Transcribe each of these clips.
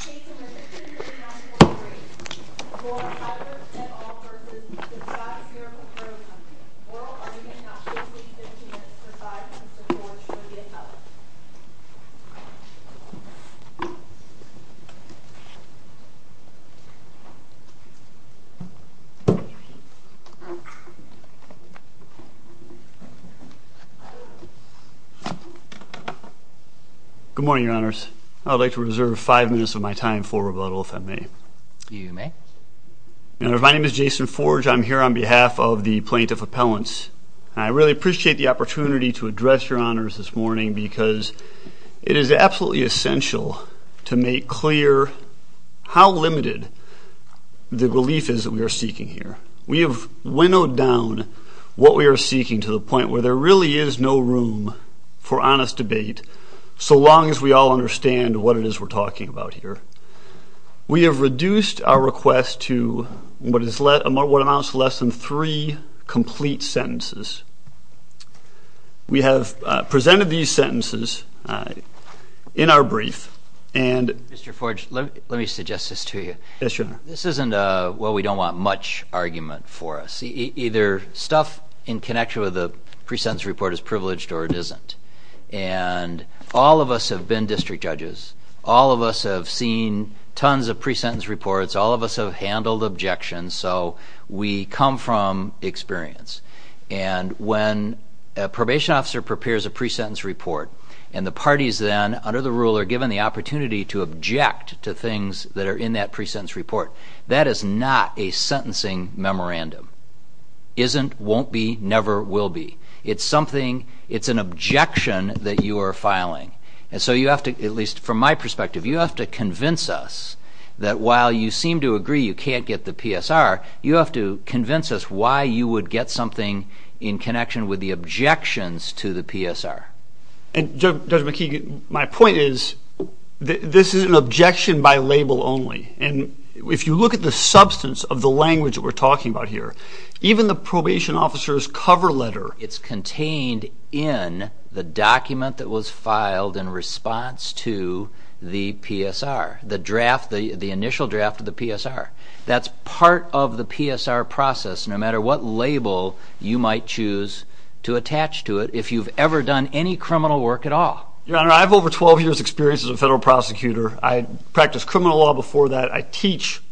Chasing the 639.3, Lord Cyphert v. The Scotts Miracle Gro Company, oral argument, not 50-50, but 5 points to 4 should be accepted. Good morning, Your Honors. I would like to reserve five minutes of my time for rebuttal, if I may. You may. My name is Jason Forge. I'm here on behalf of the Plaintiff Appellants. I really appreciate the opportunity to address Your Honors this morning because it is absolutely essential to make clear how limited the belief is that we are seeking here. We have winnowed down what we are seeking to the point where there really is no room for honest debate, so long as we all understand what it is we're talking about here. We have reduced our request to what amounts to less than three complete sentences. We have presented these sentences in our brief and... Mr. Forge, let me suggest this to you. Yes, Your Honor. This isn't a, well, we don't want much argument for us. Either stuff in connection with the pre-sentence report is privileged or it isn't. And all of us have been district judges. All of us have seen tons of pre-sentence reports. All of us have handled objections. So we come from experience. And when a probation officer prepares a pre-sentence report and the parties then, under the rule, are given the opportunity to object to things that are in that pre-sentence report, that is not a sentencing memorandum. Isn't, won't be, never will be. It's something, it's an objection that you are filing. And so you have to, at least from my perspective, you have to convince us that while you seem to agree you can't get the PSR, you have to convince us why you would get something in connection with the objections to the PSR. And Judge McKeegan, my point is this is an objection by label only. And if you look at the substance of the language that we're talking about here, even the probation officer's cover letter... ...is filed in response to the PSR, the draft, the initial draft of the PSR. That's part of the PSR process, no matter what label you might choose to attach to it, if you've ever done any criminal work at all. Your Honor, I have over 12 years' experience as a federal prosecutor. I practiced criminal law before that. I teach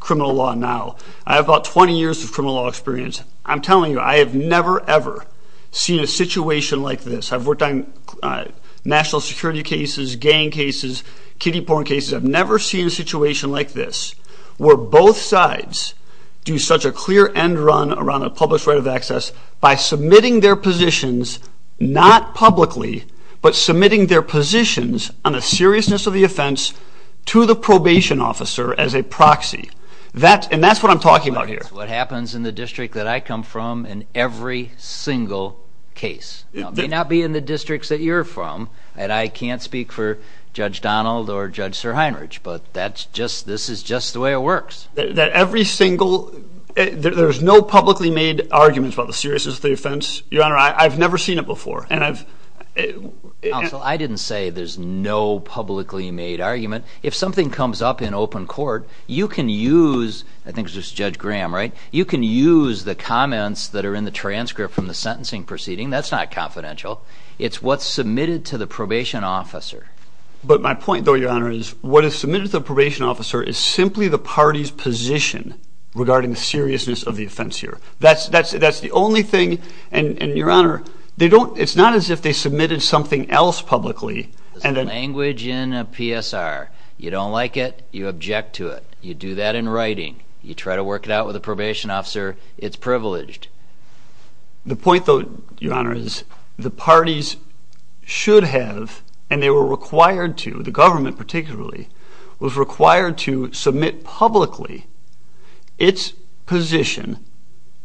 criminal law now. I have about 20 years of criminal law experience. I'm telling you, I have never, ever seen a situation like this. I've worked on national security cases, gang cases, kiddie porn cases. I've never seen a situation like this where both sides do such a clear end run around a published right of access by submitting their positions, not publicly... ...but submitting their positions on the seriousness of the offense to the probation officer as a proxy. And that's what I'm talking about here. That's what happens in the district that I come from in every single case. It may not be in the districts that you're from, and I can't speak for Judge Donald or Judge Sir Heinrich, but that's just... ...this is just the way it works. That every single... There's no publicly made arguments about the seriousness of the offense. Your Honor, I've never seen it before, and I've... Counsel, I didn't say there's no publicly made argument. If something comes up in open court, you can use... I think it was Judge Graham, right? You can use the comments that are in the transcript from the sentencing proceeding. That's not confidential. It's what's submitted to the probation officer. But my point, though, Your Honor, is what is submitted to the probation officer is simply the party's position regarding the seriousness of the offense here. That's the only thing. And, Your Honor, they don't... It's not as if they submitted something else publicly. It's language in a PSR. You don't like it. You object to it. You do that in writing. You try to work it out with the probation officer. It's privileged. The point, though, Your Honor, is the parties should have, and they were required to, the government particularly, was required to submit publicly its position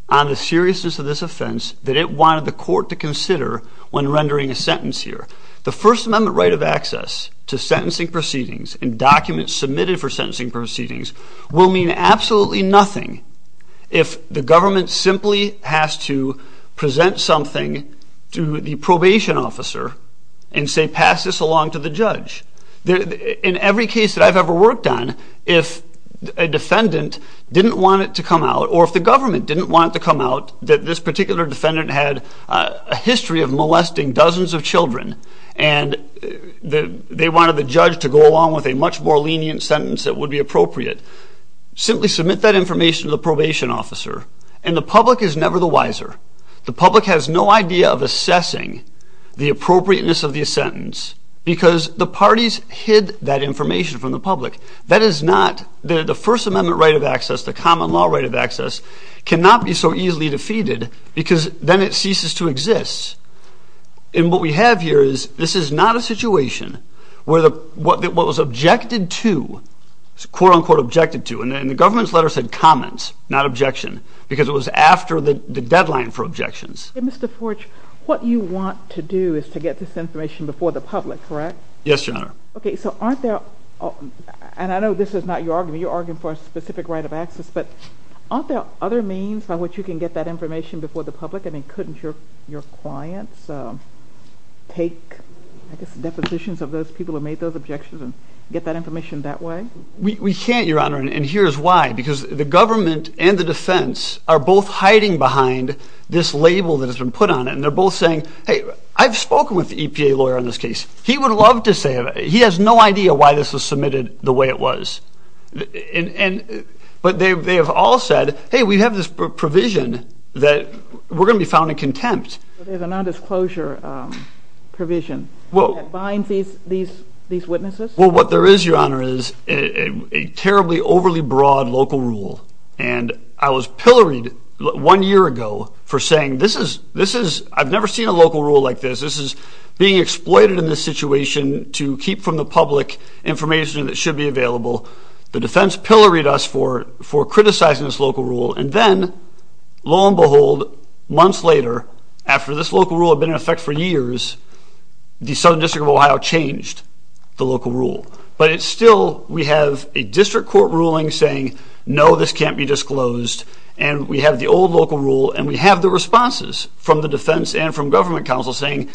on the seriousness of this offense that it wanted the court to consider when rendering a sentence here. The First Amendment right of access to sentencing proceedings and documents submitted for sentencing proceedings will mean absolutely nothing if the government simply has to present something to the probation officer and say, pass this along to the judge. In every case that I've ever worked on, if a defendant didn't want it to come out, or if the government didn't want it to come out that this particular defendant had a history of molesting dozens of children and they wanted the judge to go along with a much more lenient sentence that would be appropriate, simply submit that information to the probation officer, and the public is never the wiser. The public has no idea of assessing the appropriateness of the sentence because the parties hid that information from the public. That is not the First Amendment right of access, the common law right of access, cannot be so easily defeated because then it ceases to exist. And what we have here is this is not a situation where what was objected to, quote-unquote objected to, and the government's letter said comments, not objection, because it was after the deadline for objections. Mr. Forge, what you want to do is to get this information before the public, correct? Yes, Your Honor. Okay, so aren't there, and I know this is not your argument, you're arguing for a specific right of access, but aren't there other means by which you can get that information before the public? I mean, couldn't your clients take, I guess, depositions of those people who made those objections and get that information that way? We can't, Your Honor, and here's why. Because the government and the defense are both hiding behind this label that has been put on it, and they're both saying, hey, I've spoken with the EPA lawyer on this case. He would love to say it. He has no idea why this was submitted the way it was. But they have all said, hey, we have this provision that we're going to be found in contempt. There's a nondisclosure provision that binds these witnesses? Well, what there is, Your Honor, is a terribly overly broad local rule, and I was pilloried one year ago for saying this is, I've never seen a local rule like this. This is being exploited in this situation to keep from the public information that should be available. The defense pilloried us for criticizing this local rule, and then, lo and behold, months later, after this local rule had been in effect for years, the Southern District of Ohio changed the local rule. But it's still, we have a district court ruling saying, no, this can't be disclosed, and we have the old local rule, and we have the responses from the defense and from government counsel saying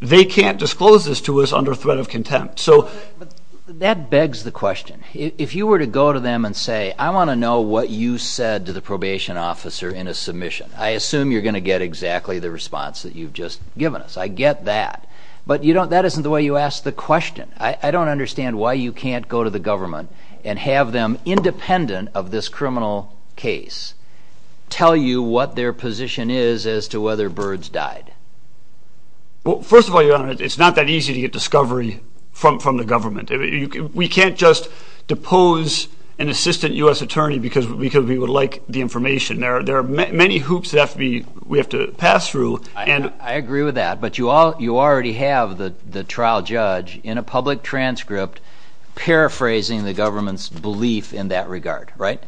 they can't disclose this to us under threat of contempt. But that begs the question. If you were to go to them and say, I want to know what you said to the probation officer in a submission, I assume you're going to get exactly the response that you've just given us. I get that. But that isn't the way you ask the question. I don't understand why you can't go to the government and have them, independent of this criminal case, tell you what their position is as to whether Byrds died. Well, first of all, Your Honor, it's not that easy to get discovery from the government. We can't just depose an assistant U.S. attorney because we would like the information. There are many hoops we have to pass through. I agree with that, but you already have the trial judge in a public transcript paraphrasing the government's belief in that regard, right?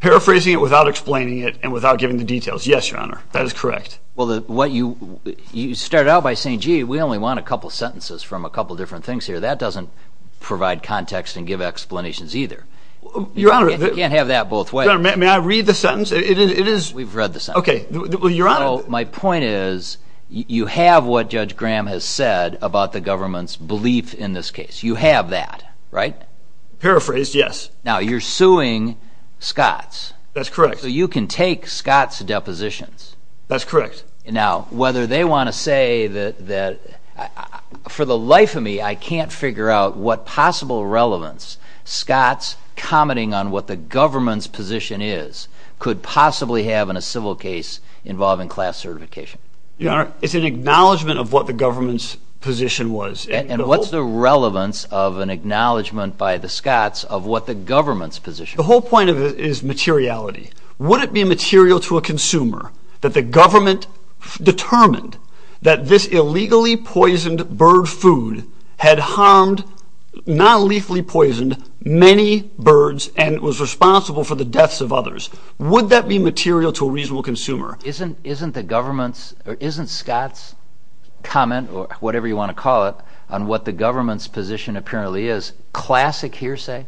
Paraphrasing it without explaining it and without giving the details. Yes, Your Honor, that is correct. Well, you started out by saying, gee, we only want a couple sentences from a couple different things here. That doesn't provide context and give explanations either. You can't have that both ways. Your Honor, may I read the sentence? We've read the sentence. My point is, you have what Judge Graham has said about the government's belief in this case. You have that, right? Paraphrased, yes. Now, you're suing Scotts. That's correct. So you can take Scotts' depositions. That's correct. Now, whether they want to say that, for the life of me, I can't figure out what possible relevance Scotts, commenting on what the government's position is, could possibly have in a civil case involving class certification. Your Honor, it's an acknowledgment of what the government's position was. And what's the relevance of an acknowledgment by the Scotts of what the government's position was? The whole point of it is materiality. Would it be material to a consumer that the government determined that this illegally poisoned bird food had harmed, non-lethally poisoned, many birds and was responsible for the deaths of others? Would that be material to a reasonable consumer? Isn't Scotts' comment, or whatever you want to call it, on what the government's position apparently is classic hearsay?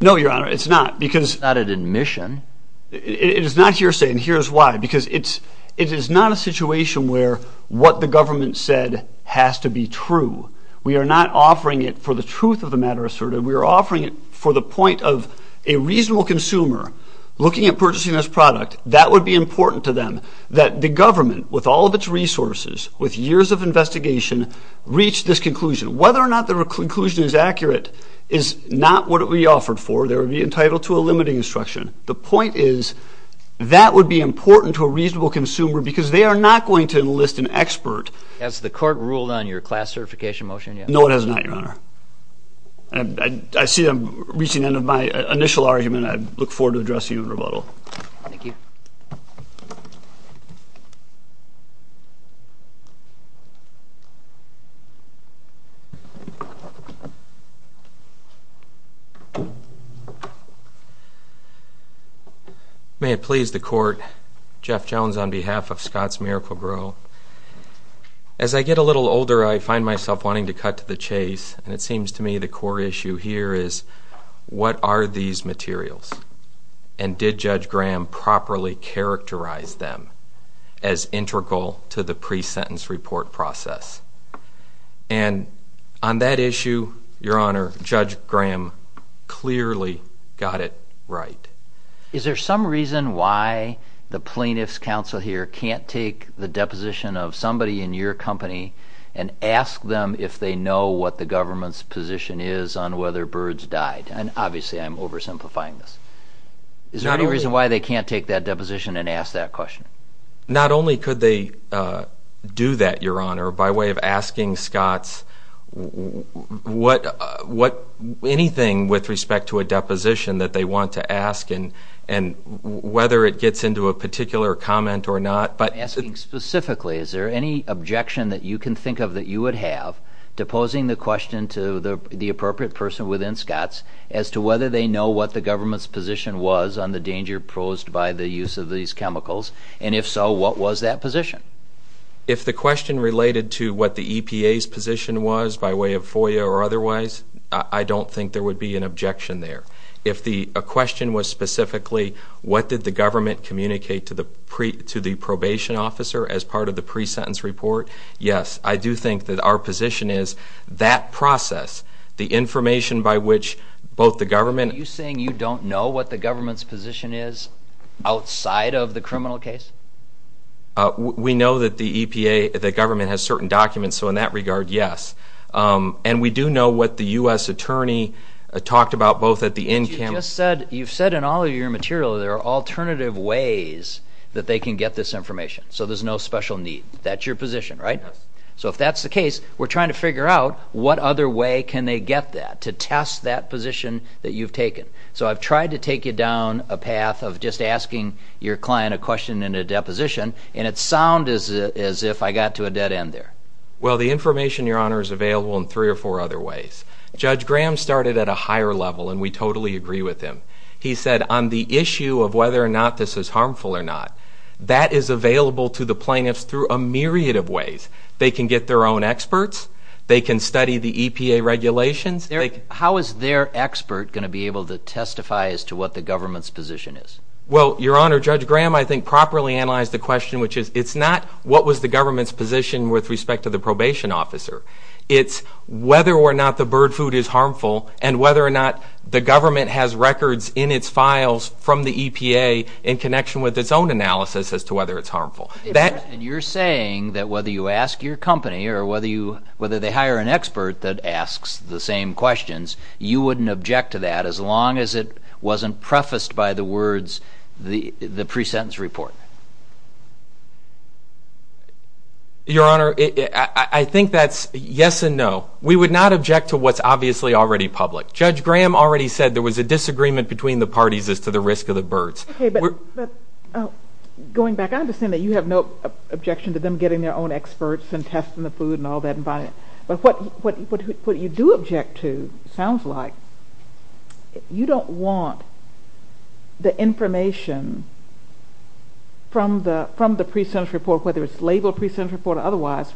No, Your Honor, it's not. It's not an admission. It is not hearsay, and here's why. Because it is not a situation where what the government said has to be true. We are not offering it for the truth of the matter asserted. We are offering it for the point of a reasonable consumer looking at purchasing this product. That would be important to them, that the government, with all of its resources, with years of investigation, reach this conclusion. Whether or not the conclusion is accurate is not what it would be offered for. They would be entitled to a limiting instruction. The point is that would be important to a reasonable consumer because they are not going to enlist an expert. Has the court ruled on your class certification motion yet? No, it has not, Your Honor. I see I'm reaching the end of my initial argument. I look forward to addressing you in rebuttal. Thank you. May it please the court. Jeff Jones on behalf of Scott's Miracle-Gro. As I get a little older, I find myself wanting to cut to the chase, and it seems to me the core issue here is what are these materials? And did Judge Graham properly characterize them as integral to the pre-sentence report process? And on that issue, Your Honor, Judge Graham clearly got it right. Is there some reason why the plaintiff's counsel here can't take the deposition of somebody in your company and ask them if they know what the government's position is on whether birds died? And obviously I'm oversimplifying this. Is there any reason why they can't take that deposition and ask that question? Not only could they do that, Your Honor, by way of asking Scott's anything with respect to a deposition that they want to ask and whether it gets into a particular comment or not. I'm asking specifically is there any objection that you can think of that you would have to posing the question to the appropriate person within Scott's as to whether they know what the government's position was on the danger posed by the use of these chemicals, and if so, what was that position? If the question related to what the EPA's position was by way of FOIA or otherwise, I don't think there would be an objection there. If the question was specifically what did the government communicate to the probation officer as part of the pre-sentence report, yes, I do think that our position is that process, the information by which both the government... Are you saying you don't know what the government's position is outside of the criminal case? We know that the EPA, the government, has certain documents, so in that regard, yes. And we do know what the U.S. attorney talked about both at the end... But you just said, you've said in all of your material there are alternative ways that they can get this information, so there's no special need. That's your position, right? Yes. So if that's the case, we're trying to figure out what other way can they get that to test that position that you've taken. So I've tried to take you down a path of just asking your client a question in a deposition, and it sounded as if I got to a dead end there. Well, the information, Your Honor, is available in three or four other ways. Judge Graham started at a higher level, and we totally agree with him. He said on the issue of whether or not this is harmful or not, that is available to the plaintiffs through a myriad of ways. They can get their own experts. They can study the EPA regulations. How is their expert going to be able to testify as to what the government's position is? Well, Your Honor, Judge Graham, I think, properly analyzed the question, which is it's not what was the government's position with respect to the probation officer. It's whether or not the bird food is harmful and whether or not the government has records in its files from the EPA in connection with its own analysis as to whether it's harmful. And you're saying that whether you ask your company or whether they hire an expert that asks the same questions, you wouldn't object to that as long as it wasn't prefaced by the words, the pre-sentence report? Your Honor, I think that's yes and no. We would not object to what's obviously already public. Judge Graham already said there was a disagreement between the parties as to the risk of the birds. Okay, but going back, I understand that you have no objection to them getting their own experts and testing the food and all that. But what you do object to sounds like you don't want the information from the pre-sentence report, whether it's labeled pre-sentence report or otherwise,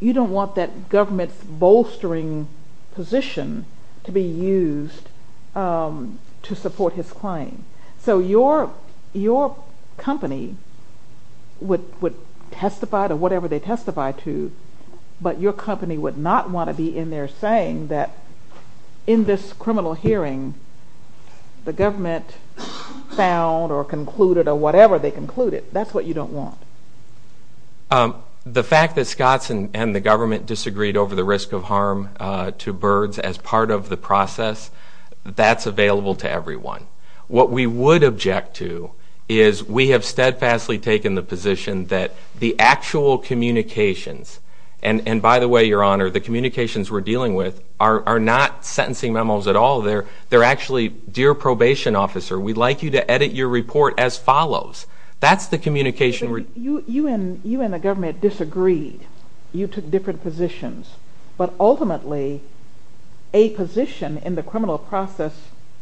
you don't want that government's bolstering position to be used to support his claim. So your company would testify to whatever they testify to, but your company would not want to be in there saying that in this criminal hearing, the government found or concluded or whatever they concluded. That's what you don't want. The fact that Scotts and the government disagreed over the risk of harm to birds as part of the process, that's available to everyone. What we would object to is we have steadfastly taken the position that the actual communications, and by the way, Your Honor, the communications we're dealing with are not sentencing memos at all. They're actually, dear probation officer, we'd like you to edit your report as follows. That's the communication. You and the government disagreed. You took different positions. But ultimately, a position in the criminal process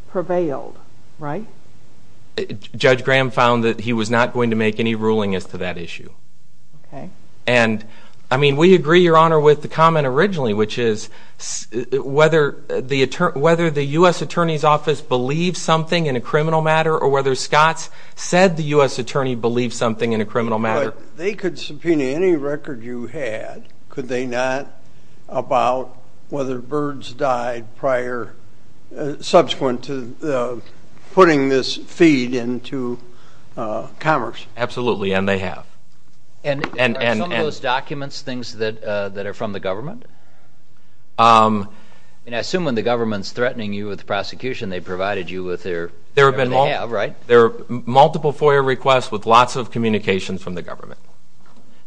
prevailed, right? Judge Graham found that he was not going to make any ruling as to that issue. Okay. And, I mean, we agree, Your Honor, with the comment originally, which is whether the U.S. Attorney's Office believes something in a criminal matter or whether Scotts said the U.S. Attorney believes something in a criminal matter. But they could subpoena any record you had, could they not, about whether birds died prior, subsequent to putting this feed into Commerce? Absolutely, and they have. And are some of those documents things that are from the government? I mean, I assume when the government's threatening you with prosecution, they provided you with whatever they have, right? There are multiple FOIA requests with lots of communications from the government.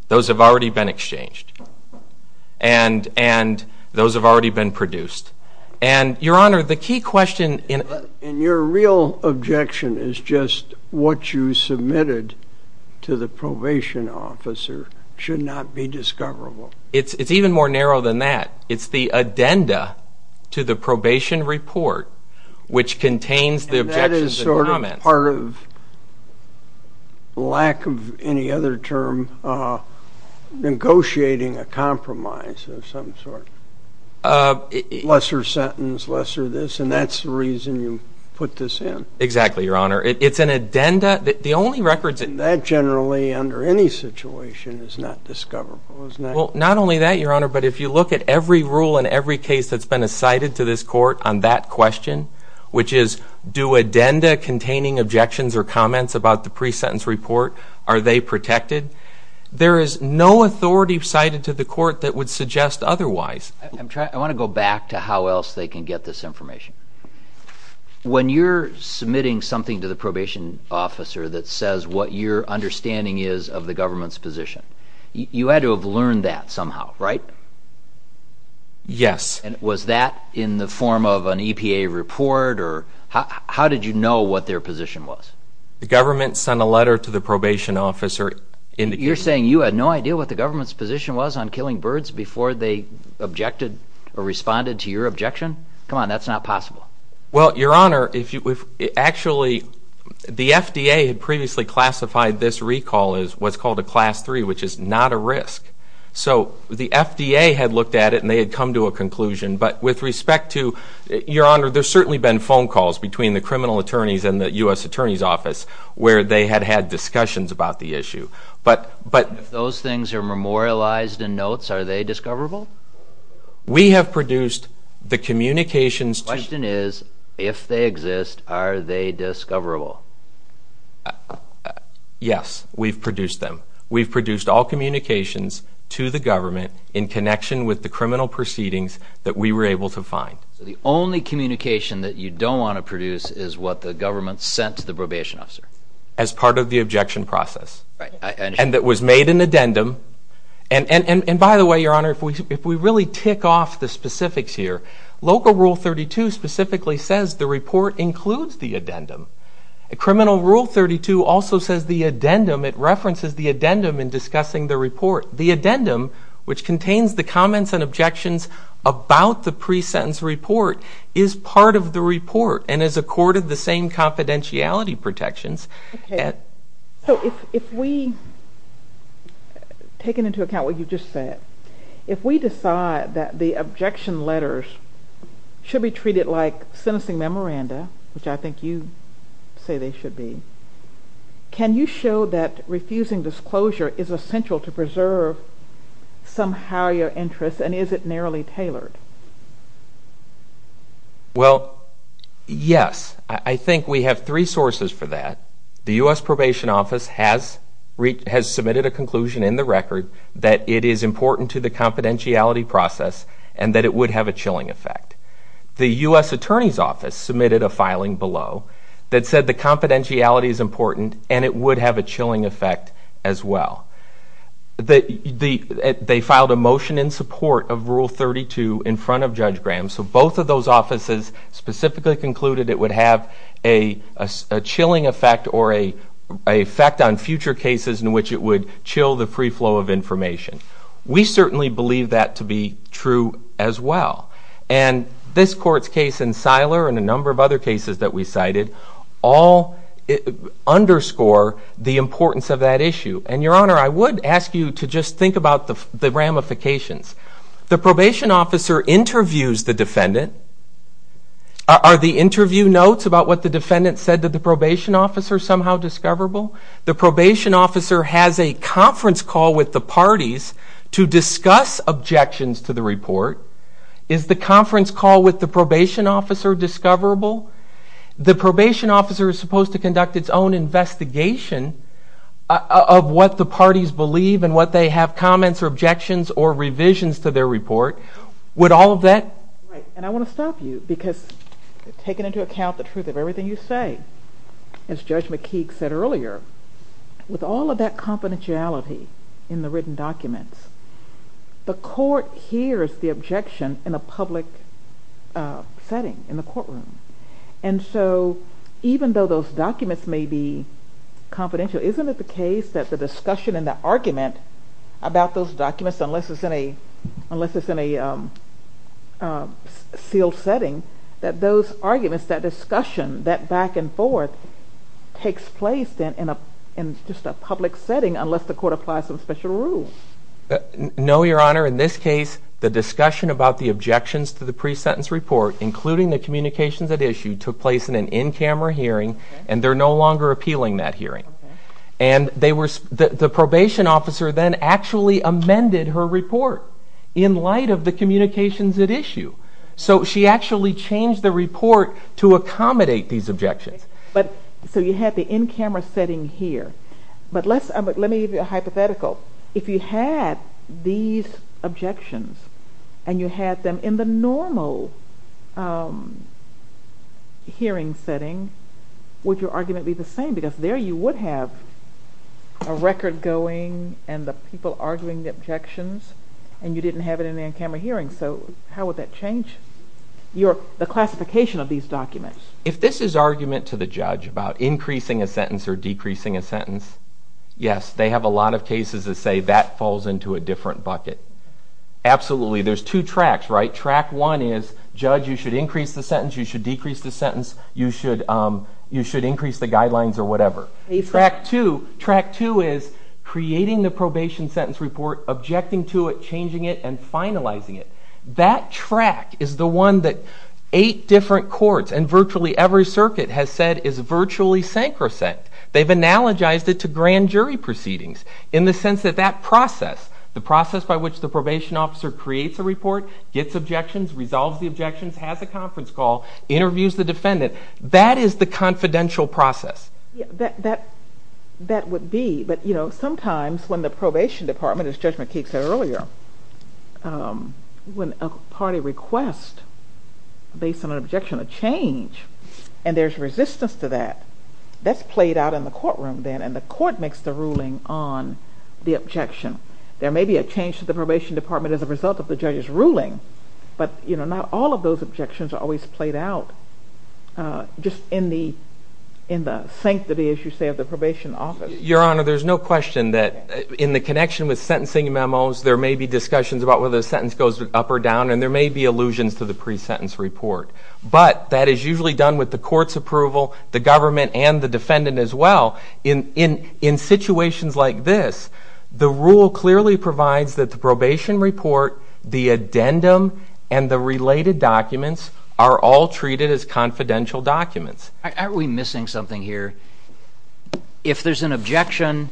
Those have already been exchanged. And those have already been produced. And, Your Honor, the key question in your real objection is just what you submitted to the probation officer should not be discoverable. It's even more narrow than that. It's the addenda to the probation report, which contains the objections and comments. Part of lack of any other term, negotiating a compromise of some sort. Lesser sentence, lesser this, and that's the reason you put this in. Exactly, Your Honor. It's an addenda. That generally, under any situation, is not discoverable, isn't it? Well, not only that, Your Honor, but if you look at every rule and every case that's been cited to this court on that question, which is do addenda containing objections or comments about the pre-sentence report, are they protected? There is no authority cited to the court that would suggest otherwise. I want to go back to how else they can get this information. When you're submitting something to the probation officer that says what your understanding is of the government's position, you had to have learned that somehow, right? Yes. And was that in the form of an EPA report, or how did you know what their position was? The government sent a letter to the probation officer indicating... You're saying you had no idea what the government's position was on killing birds before they objected or responded to your objection? Come on, that's not possible. Well, Your Honor, actually, the FDA had previously classified this recall So the FDA had looked at it and they had come to a conclusion. But with respect to, Your Honor, there's certainly been phone calls between the criminal attorneys and the U.S. Attorney's Office where they had had discussions about the issue. If those things are memorialized in notes, are they discoverable? We have produced the communications to... The question is, if they exist, are they discoverable? Yes, we've produced them. We've produced all communications to the government in connection with the criminal proceedings that we were able to find. So the only communication that you don't want to produce is what the government sent to the probation officer? As part of the objection process. Right, I understand. And that was made an addendum. And by the way, Your Honor, if we really tick off the specifics here, Local Rule 32 specifically says the report includes the addendum. Criminal Rule 32 also says the addendum. It references the addendum in discussing the report. The addendum, which contains the comments and objections about the pre-sentence report, is part of the report and is accorded the same confidentiality protections. So if we take into account what you just said, if we decide that the objection letters should be treated like sentencing memoranda, which I think you say they should be, can you show that refusing disclosure is essential to preserve somehow your interests, and is it narrowly tailored? Well, yes. I think we have three sources for that. The U.S. Probation Office has submitted a conclusion in the record that it is important to the confidentiality process and that it would have a chilling effect. The U.S. Attorney's Office submitted a filing below that said the confidentiality is important and it would have a chilling effect as well. They filed a motion in support of Rule 32 in front of Judge Graham, so both of those offices specifically concluded it would have a chilling effect or an effect on future cases in which it would chill the free flow of information. We certainly believe that to be true as well. And this court's case in Siler and a number of other cases that we cited all underscore the importance of that issue. And, Your Honor, I would ask you to just think about the ramifications. The probation officer interviews the defendant. Are the interview notes about what the defendant said to the probation officer somehow discoverable? The probation officer has a conference call with the parties to discuss objections to the report. Is the conference call with the probation officer discoverable? The probation officer is supposed to conduct its own investigation of what the parties believe and what they have, comments or objections or revisions to their report. Would all of that... Right, and I want to stop you because taking into account the truth of everything you say, as Judge McKeague said earlier, with all of that confidentiality in the written documents, the court hears the objection in a public setting, in the courtroom. And so even though those documents may be confidential, isn't it the case that the discussion and the argument about those documents, unless it's in a sealed setting, that those arguments, that discussion, that back and forth takes place in just a public setting unless the court applies some special rule? No, Your Honor. In this case, the discussion about the objections to the pre-sentence report, including the communications at issue, took place in an in-camera hearing, and they're no longer appealing that hearing. And the probation officer then actually amended her report in light of the communications at issue. So she actually changed the report to accommodate these objections. So you had the in-camera setting here. But let me give you a hypothetical. If you had these objections, and you had them in the normal hearing setting, would your argument be the same? Because there you would have a record going and the people arguing the objections, and you didn't have it in the in-camera hearing. So how would that change the classification of these documents? If this is argument to the judge about increasing a sentence or decreasing a sentence, yes, they have a lot of cases that say that falls into a different bucket. Absolutely. There's two tracks, right? Track one is, judge, you should increase the sentence, you should decrease the sentence, you should increase the guidelines or whatever. Track two is creating the probation sentence report, objecting to it, changing it, and finalizing it. That track is the one that eight different courts and virtually every circuit has said is virtually sacrosanct. They've analogized it to grand jury proceedings in the sense that that process, the process by which the probation officer creates a report, gets objections, resolves the objections, has a conference call, interviews the defendant, that is the confidential process. That would be. But sometimes when the probation department, as Judge McKeague said earlier, when a party requests based on an objection, a change, and there's resistance to that, that's played out in the courtroom then and the court makes the ruling on the objection. There may be a change to the probation department as a result of the judge's ruling, but not all of those objections are always played out just in the sanctity, as you say, of the probation office. Your Honor, there's no question that in the connection with sentencing memos there may be discussions about whether the sentence goes up or down and there may be allusions to the pre-sentence report, but that is usually done with the court's approval, the government, and the defendant as well. In situations like this, the rule clearly provides that the probation report, the addendum, and the related documents are all treated as confidential documents. Aren't we missing something here? If there's an objection,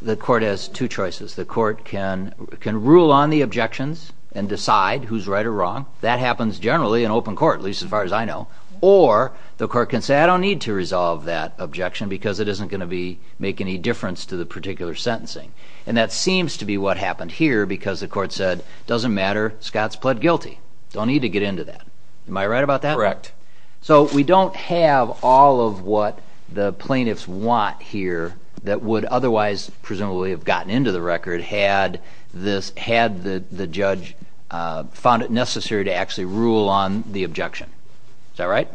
the court has two choices. The court can rule on the objections and decide who's right or wrong. That happens generally in open court, at least as far as I know. Or the court can say, I don't need to resolve that objection because it isn't going to make any difference to the particular sentencing. And that seems to be what happened here because the court said, doesn't matter, Scott's pled guilty. Don't need to get into that. Am I right about that? Correct. So we don't have all of what the plaintiffs want here that would otherwise presumably have gotten into the record had the judge found it necessary to actually rule on the objection. Is that right?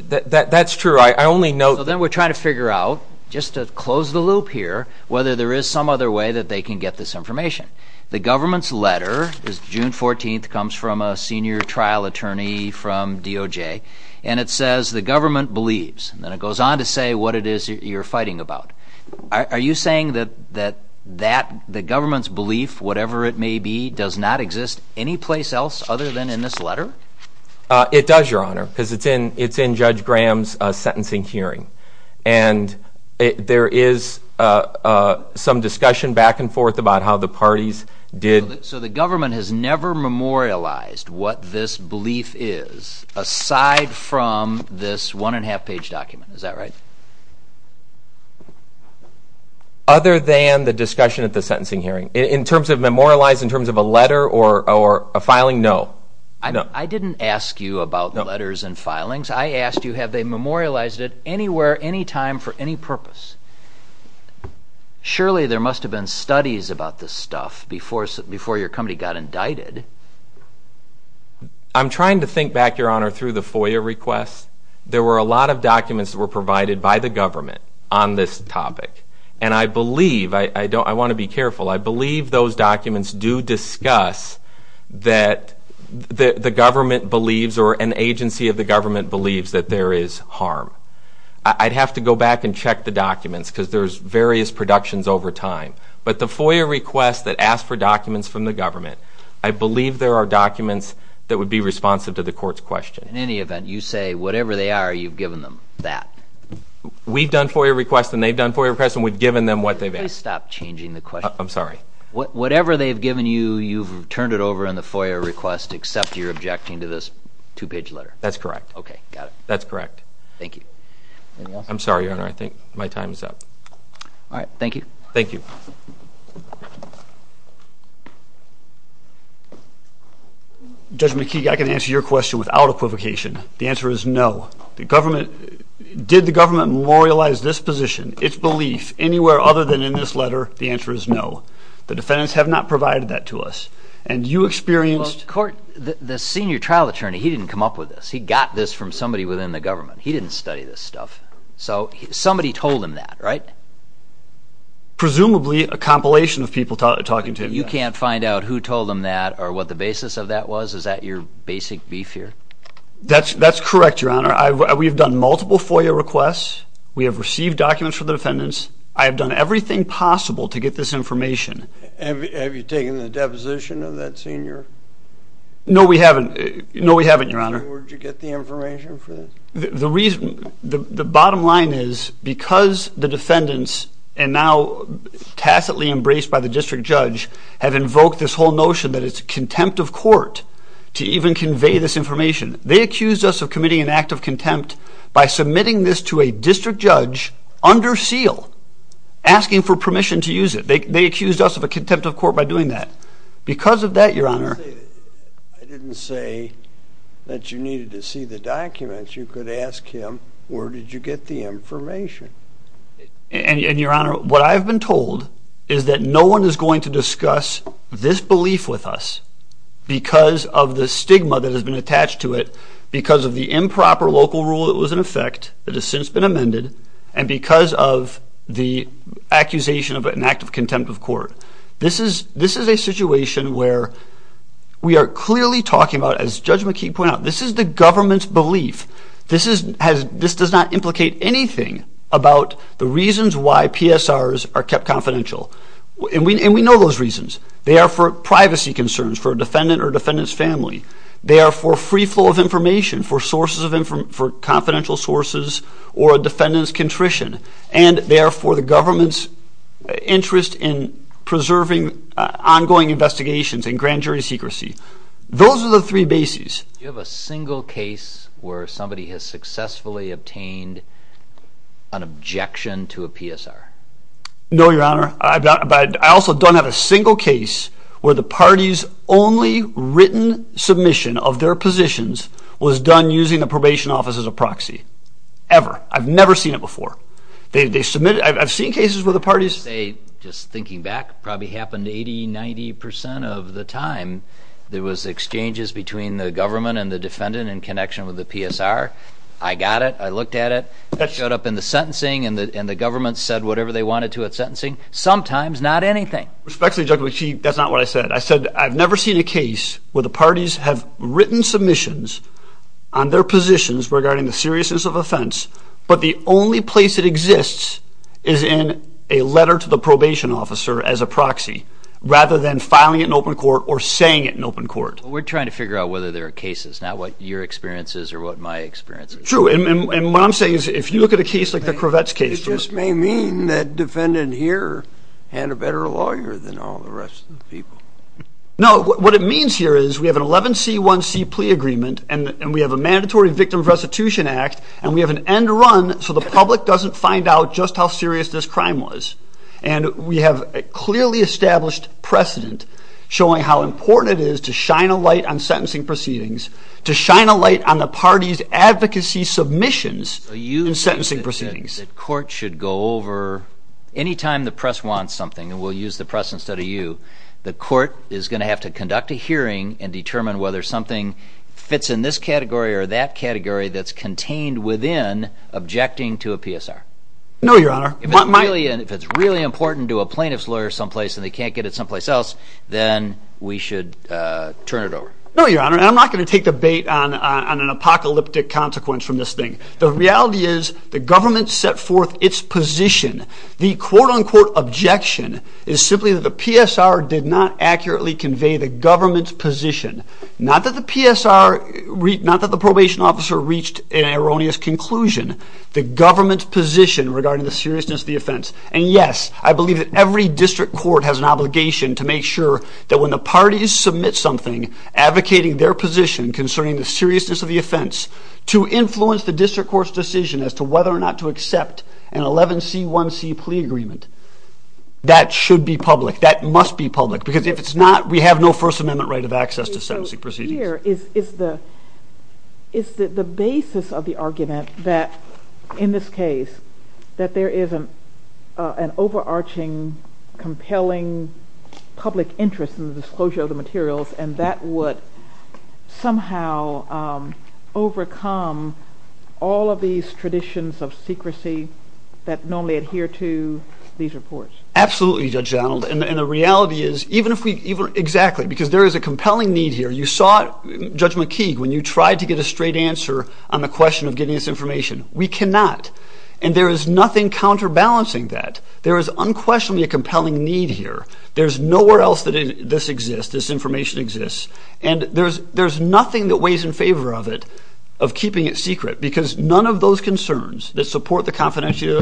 That's true. I only note... So then we're trying to figure out, just to close the loop here, whether there is some other way that they can get this information. The government's letter is June 14th, comes from a senior trial attorney from DOJ, and it says the government believes. And then it goes on to say what it is you're fighting about. Are you saying that the government's belief, whatever it may be, does not exist anyplace else other than in this letter? It does, Your Honor, because it's in Judge Graham's sentencing hearing. And there is some discussion back and forth about how the parties did... So the government has never memorialized what this belief is aside from this one-and-a-half-page document. Is that right? Other than the discussion at the sentencing hearing. In terms of memorializing, in terms of a letter or a filing, no. I didn't ask you about letters and filings. I asked you have they memorialized it anywhere, anytime, for any purpose. Surely there must have been studies about this stuff before your company got indicted. I'm trying to think back, Your Honor, through the FOIA requests. There were a lot of documents that were provided by the government on this topic. And I believe, I want to be careful, I believe those documents do discuss that the government believes or an agency of the government believes that there is harm. I'd have to go back and check the documents because there's various productions over time. But the FOIA requests that ask for documents from the government, I believe there are documents that would be responsive to the court's question. In any event, you say whatever they are, you've given them that? We've done FOIA requests and they've done FOIA requests and we've given them what they've asked. Could you please stop changing the question? I'm sorry. Whatever they've given you, you've turned it over in the FOIA request except you're objecting to this two-page letter? That's correct. Okay, got it. That's correct. Thank you. Anything else? I'm sorry, Your Honor. I think my time is up. All right, thank you. Thank you. Judge McKee, I can answer your question without equivocation. The answer is no. The government... Did the government memorialize this position, its belief, anywhere other than in this letter? The answer is no. The defendants have not provided that to us. And you experienced... Well, the court... The senior trial attorney, he didn't come up with this. He got this from somebody within the government. He didn't study this stuff. So somebody told him that, right? Presumably a compilation of people talking to him. You can't find out who told him that or what the basis of that was? Is that your basic beef here? That's correct, Your Honor. We've done multiple FOIA requests. We have received documents from the defendants. I have done everything possible to get this information. Have you taken the deposition of that senior? No, we haven't. No, we haven't, Your Honor. Where did you get the information for this? The reason... The bottom line is because the defendants and now tacitly embraced by the district judge have invoked this whole notion that it's contempt of court to even convey this information. They accused us of committing an act of contempt by submitting this to a district judge under seal asking for permission to use it. They accused us of a contempt of court by doing that. Because of that, Your Honor... I didn't say that you needed to see the documents. You could ask him, where did you get the information? And, Your Honor, what I've been told is that no one is going to discuss this belief with us because of the stigma that has been attached to it, because of the improper local rule that was in effect that has since been amended, and because of the accusation of an act of contempt of court. This is a situation where we are clearly talking about, as Judge McKeague pointed out, this is the government's belief. This does not implicate anything about the reasons why PSRs are kept confidential. And we know those reasons. They are for privacy concerns for a defendant or a defendant's family. They are for free flow of information for confidential sources or a defendant's contrition. And they are for the government's interest in preserving ongoing investigations and grand jury secrecy. Those are the three bases. Do you have a single case where somebody has successfully obtained an objection to a PSR? No, Your Honor. I also don't have a single case where the party's only written submission of their positions was done using the probation office as a proxy. Ever. I've never seen it before. I've seen cases where the party's... Just thinking back, probably happened 80, 90 percent of the time there was exchanges between the government and the defendant in connection with the PSR. I got it. I looked at it. Showed up in the sentencing and the government said whatever they wanted to at sentencing. Sometimes, not anything. Respectfully, Judge, that's not what I said. I said I've never seen a case where the parties have written submissions on their positions regarding the seriousness of offense, but the only place it exists is in a letter to the probation officer as a proxy rather than filing it in open court or saying it in open court. We're trying to figure out whether there are cases, not what your experience is or what my experience is. True. And what I'm saying is if you look at a case like the Kravetz case... It just may mean that defendant here had a better lawyer than all the rest of the people. No. What it means here is we have an 11C1C plea agreement and we have a mandatory Victim of Restitution Act and we have an end run so the public doesn't find out just how serious this crime was. And we have a clearly established precedent showing how important it is to shine a light on sentencing proceedings, to shine a light on the party's advocacy submissions in sentencing proceedings. The court should go over... Any time the press wants something, and we'll use the press instead of you, the court is going to have to conduct a hearing and determine whether something fits in this category or that category that's contained within objecting to a PSR. No, Your Honor. If it's really important to a plaintiff's lawyer someplace and they can't get it someplace else, then we should turn it over. No, Your Honor. And I'm not going to take the bait on an apocalyptic consequence from this thing. The reality is the government set forth its position. The quote-unquote objection is simply that the PSR did not accurately convey the government's position. Not that the PSR... Not that the probation officer reached an erroneous conclusion. The government's position regarding the seriousness of the offense. And yes, I believe that every district court has an obligation to make sure that when the parties submit something advocating their position concerning the seriousness of the offense to influence the district court's decision as to whether or not to accept an 11C1C plea agreement, that should be public. That must be public. Because if it's not, we have no First Amendment right of access to sentencing proceedings. So here is the basis of the argument that in this case, that there is an overarching, compelling public interest in the disclosure of the materials, and that would somehow overcome all of these traditions of secrecy that normally adhere to these reports. Absolutely, Judge Donald. And the reality is, even if we... Exactly. Because there is a compelling need here. You saw, Judge McKeague, when you tried to get a straight answer on the question of getting this information. We cannot. And there is nothing counterbalancing that. There is unquestionably a compelling need here. There's nowhere else that this exists, this information exists. And there's nothing that weighs in favor of it, of keeping it secret. Because none of those concerns that support the confidentiality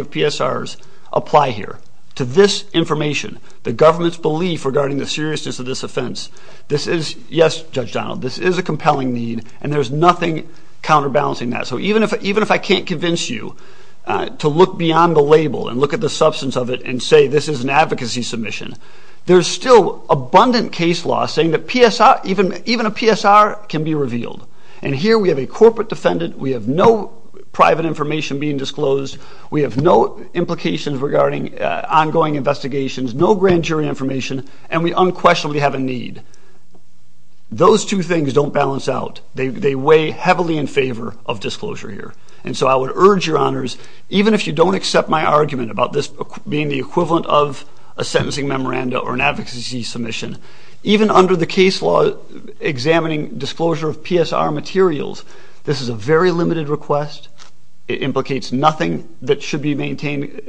of PSRs apply here, to this information, the government's belief regarding the seriousness of this offense. This is... Yes, Judge Donald, this is a compelling need, and there's nothing counterbalancing that. So even if I can't convince you to look beyond the label and look at the substance of it and say this is an advocacy submission, there's still abundant case law saying that even a PSR can be revealed. And here we have a corporate defendant, we have no private information being disclosed, we have no implications regarding ongoing investigations, no grand jury information, and we unquestionably have a need. Those two things don't balance out. They weigh heavily in favor of disclosure here. And so I would urge your honors, even if you don't accept my argument about this being the equivalent of a sentencing memoranda or an advocacy submission, even under the case law examining disclosure of PSR materials, this is a very limited request, it implicates nothing that should be maintained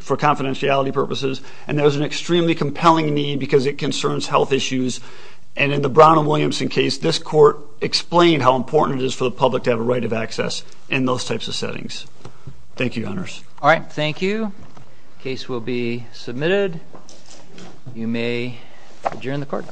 for confidentiality purposes, and there's an extremely compelling need because it concerns health issues. And in the Brown and Williamson case, this court explained how important it is for the public to have a right of access in those types of settings. Thank you, your honors. All right, thank you. You may adjourn the court.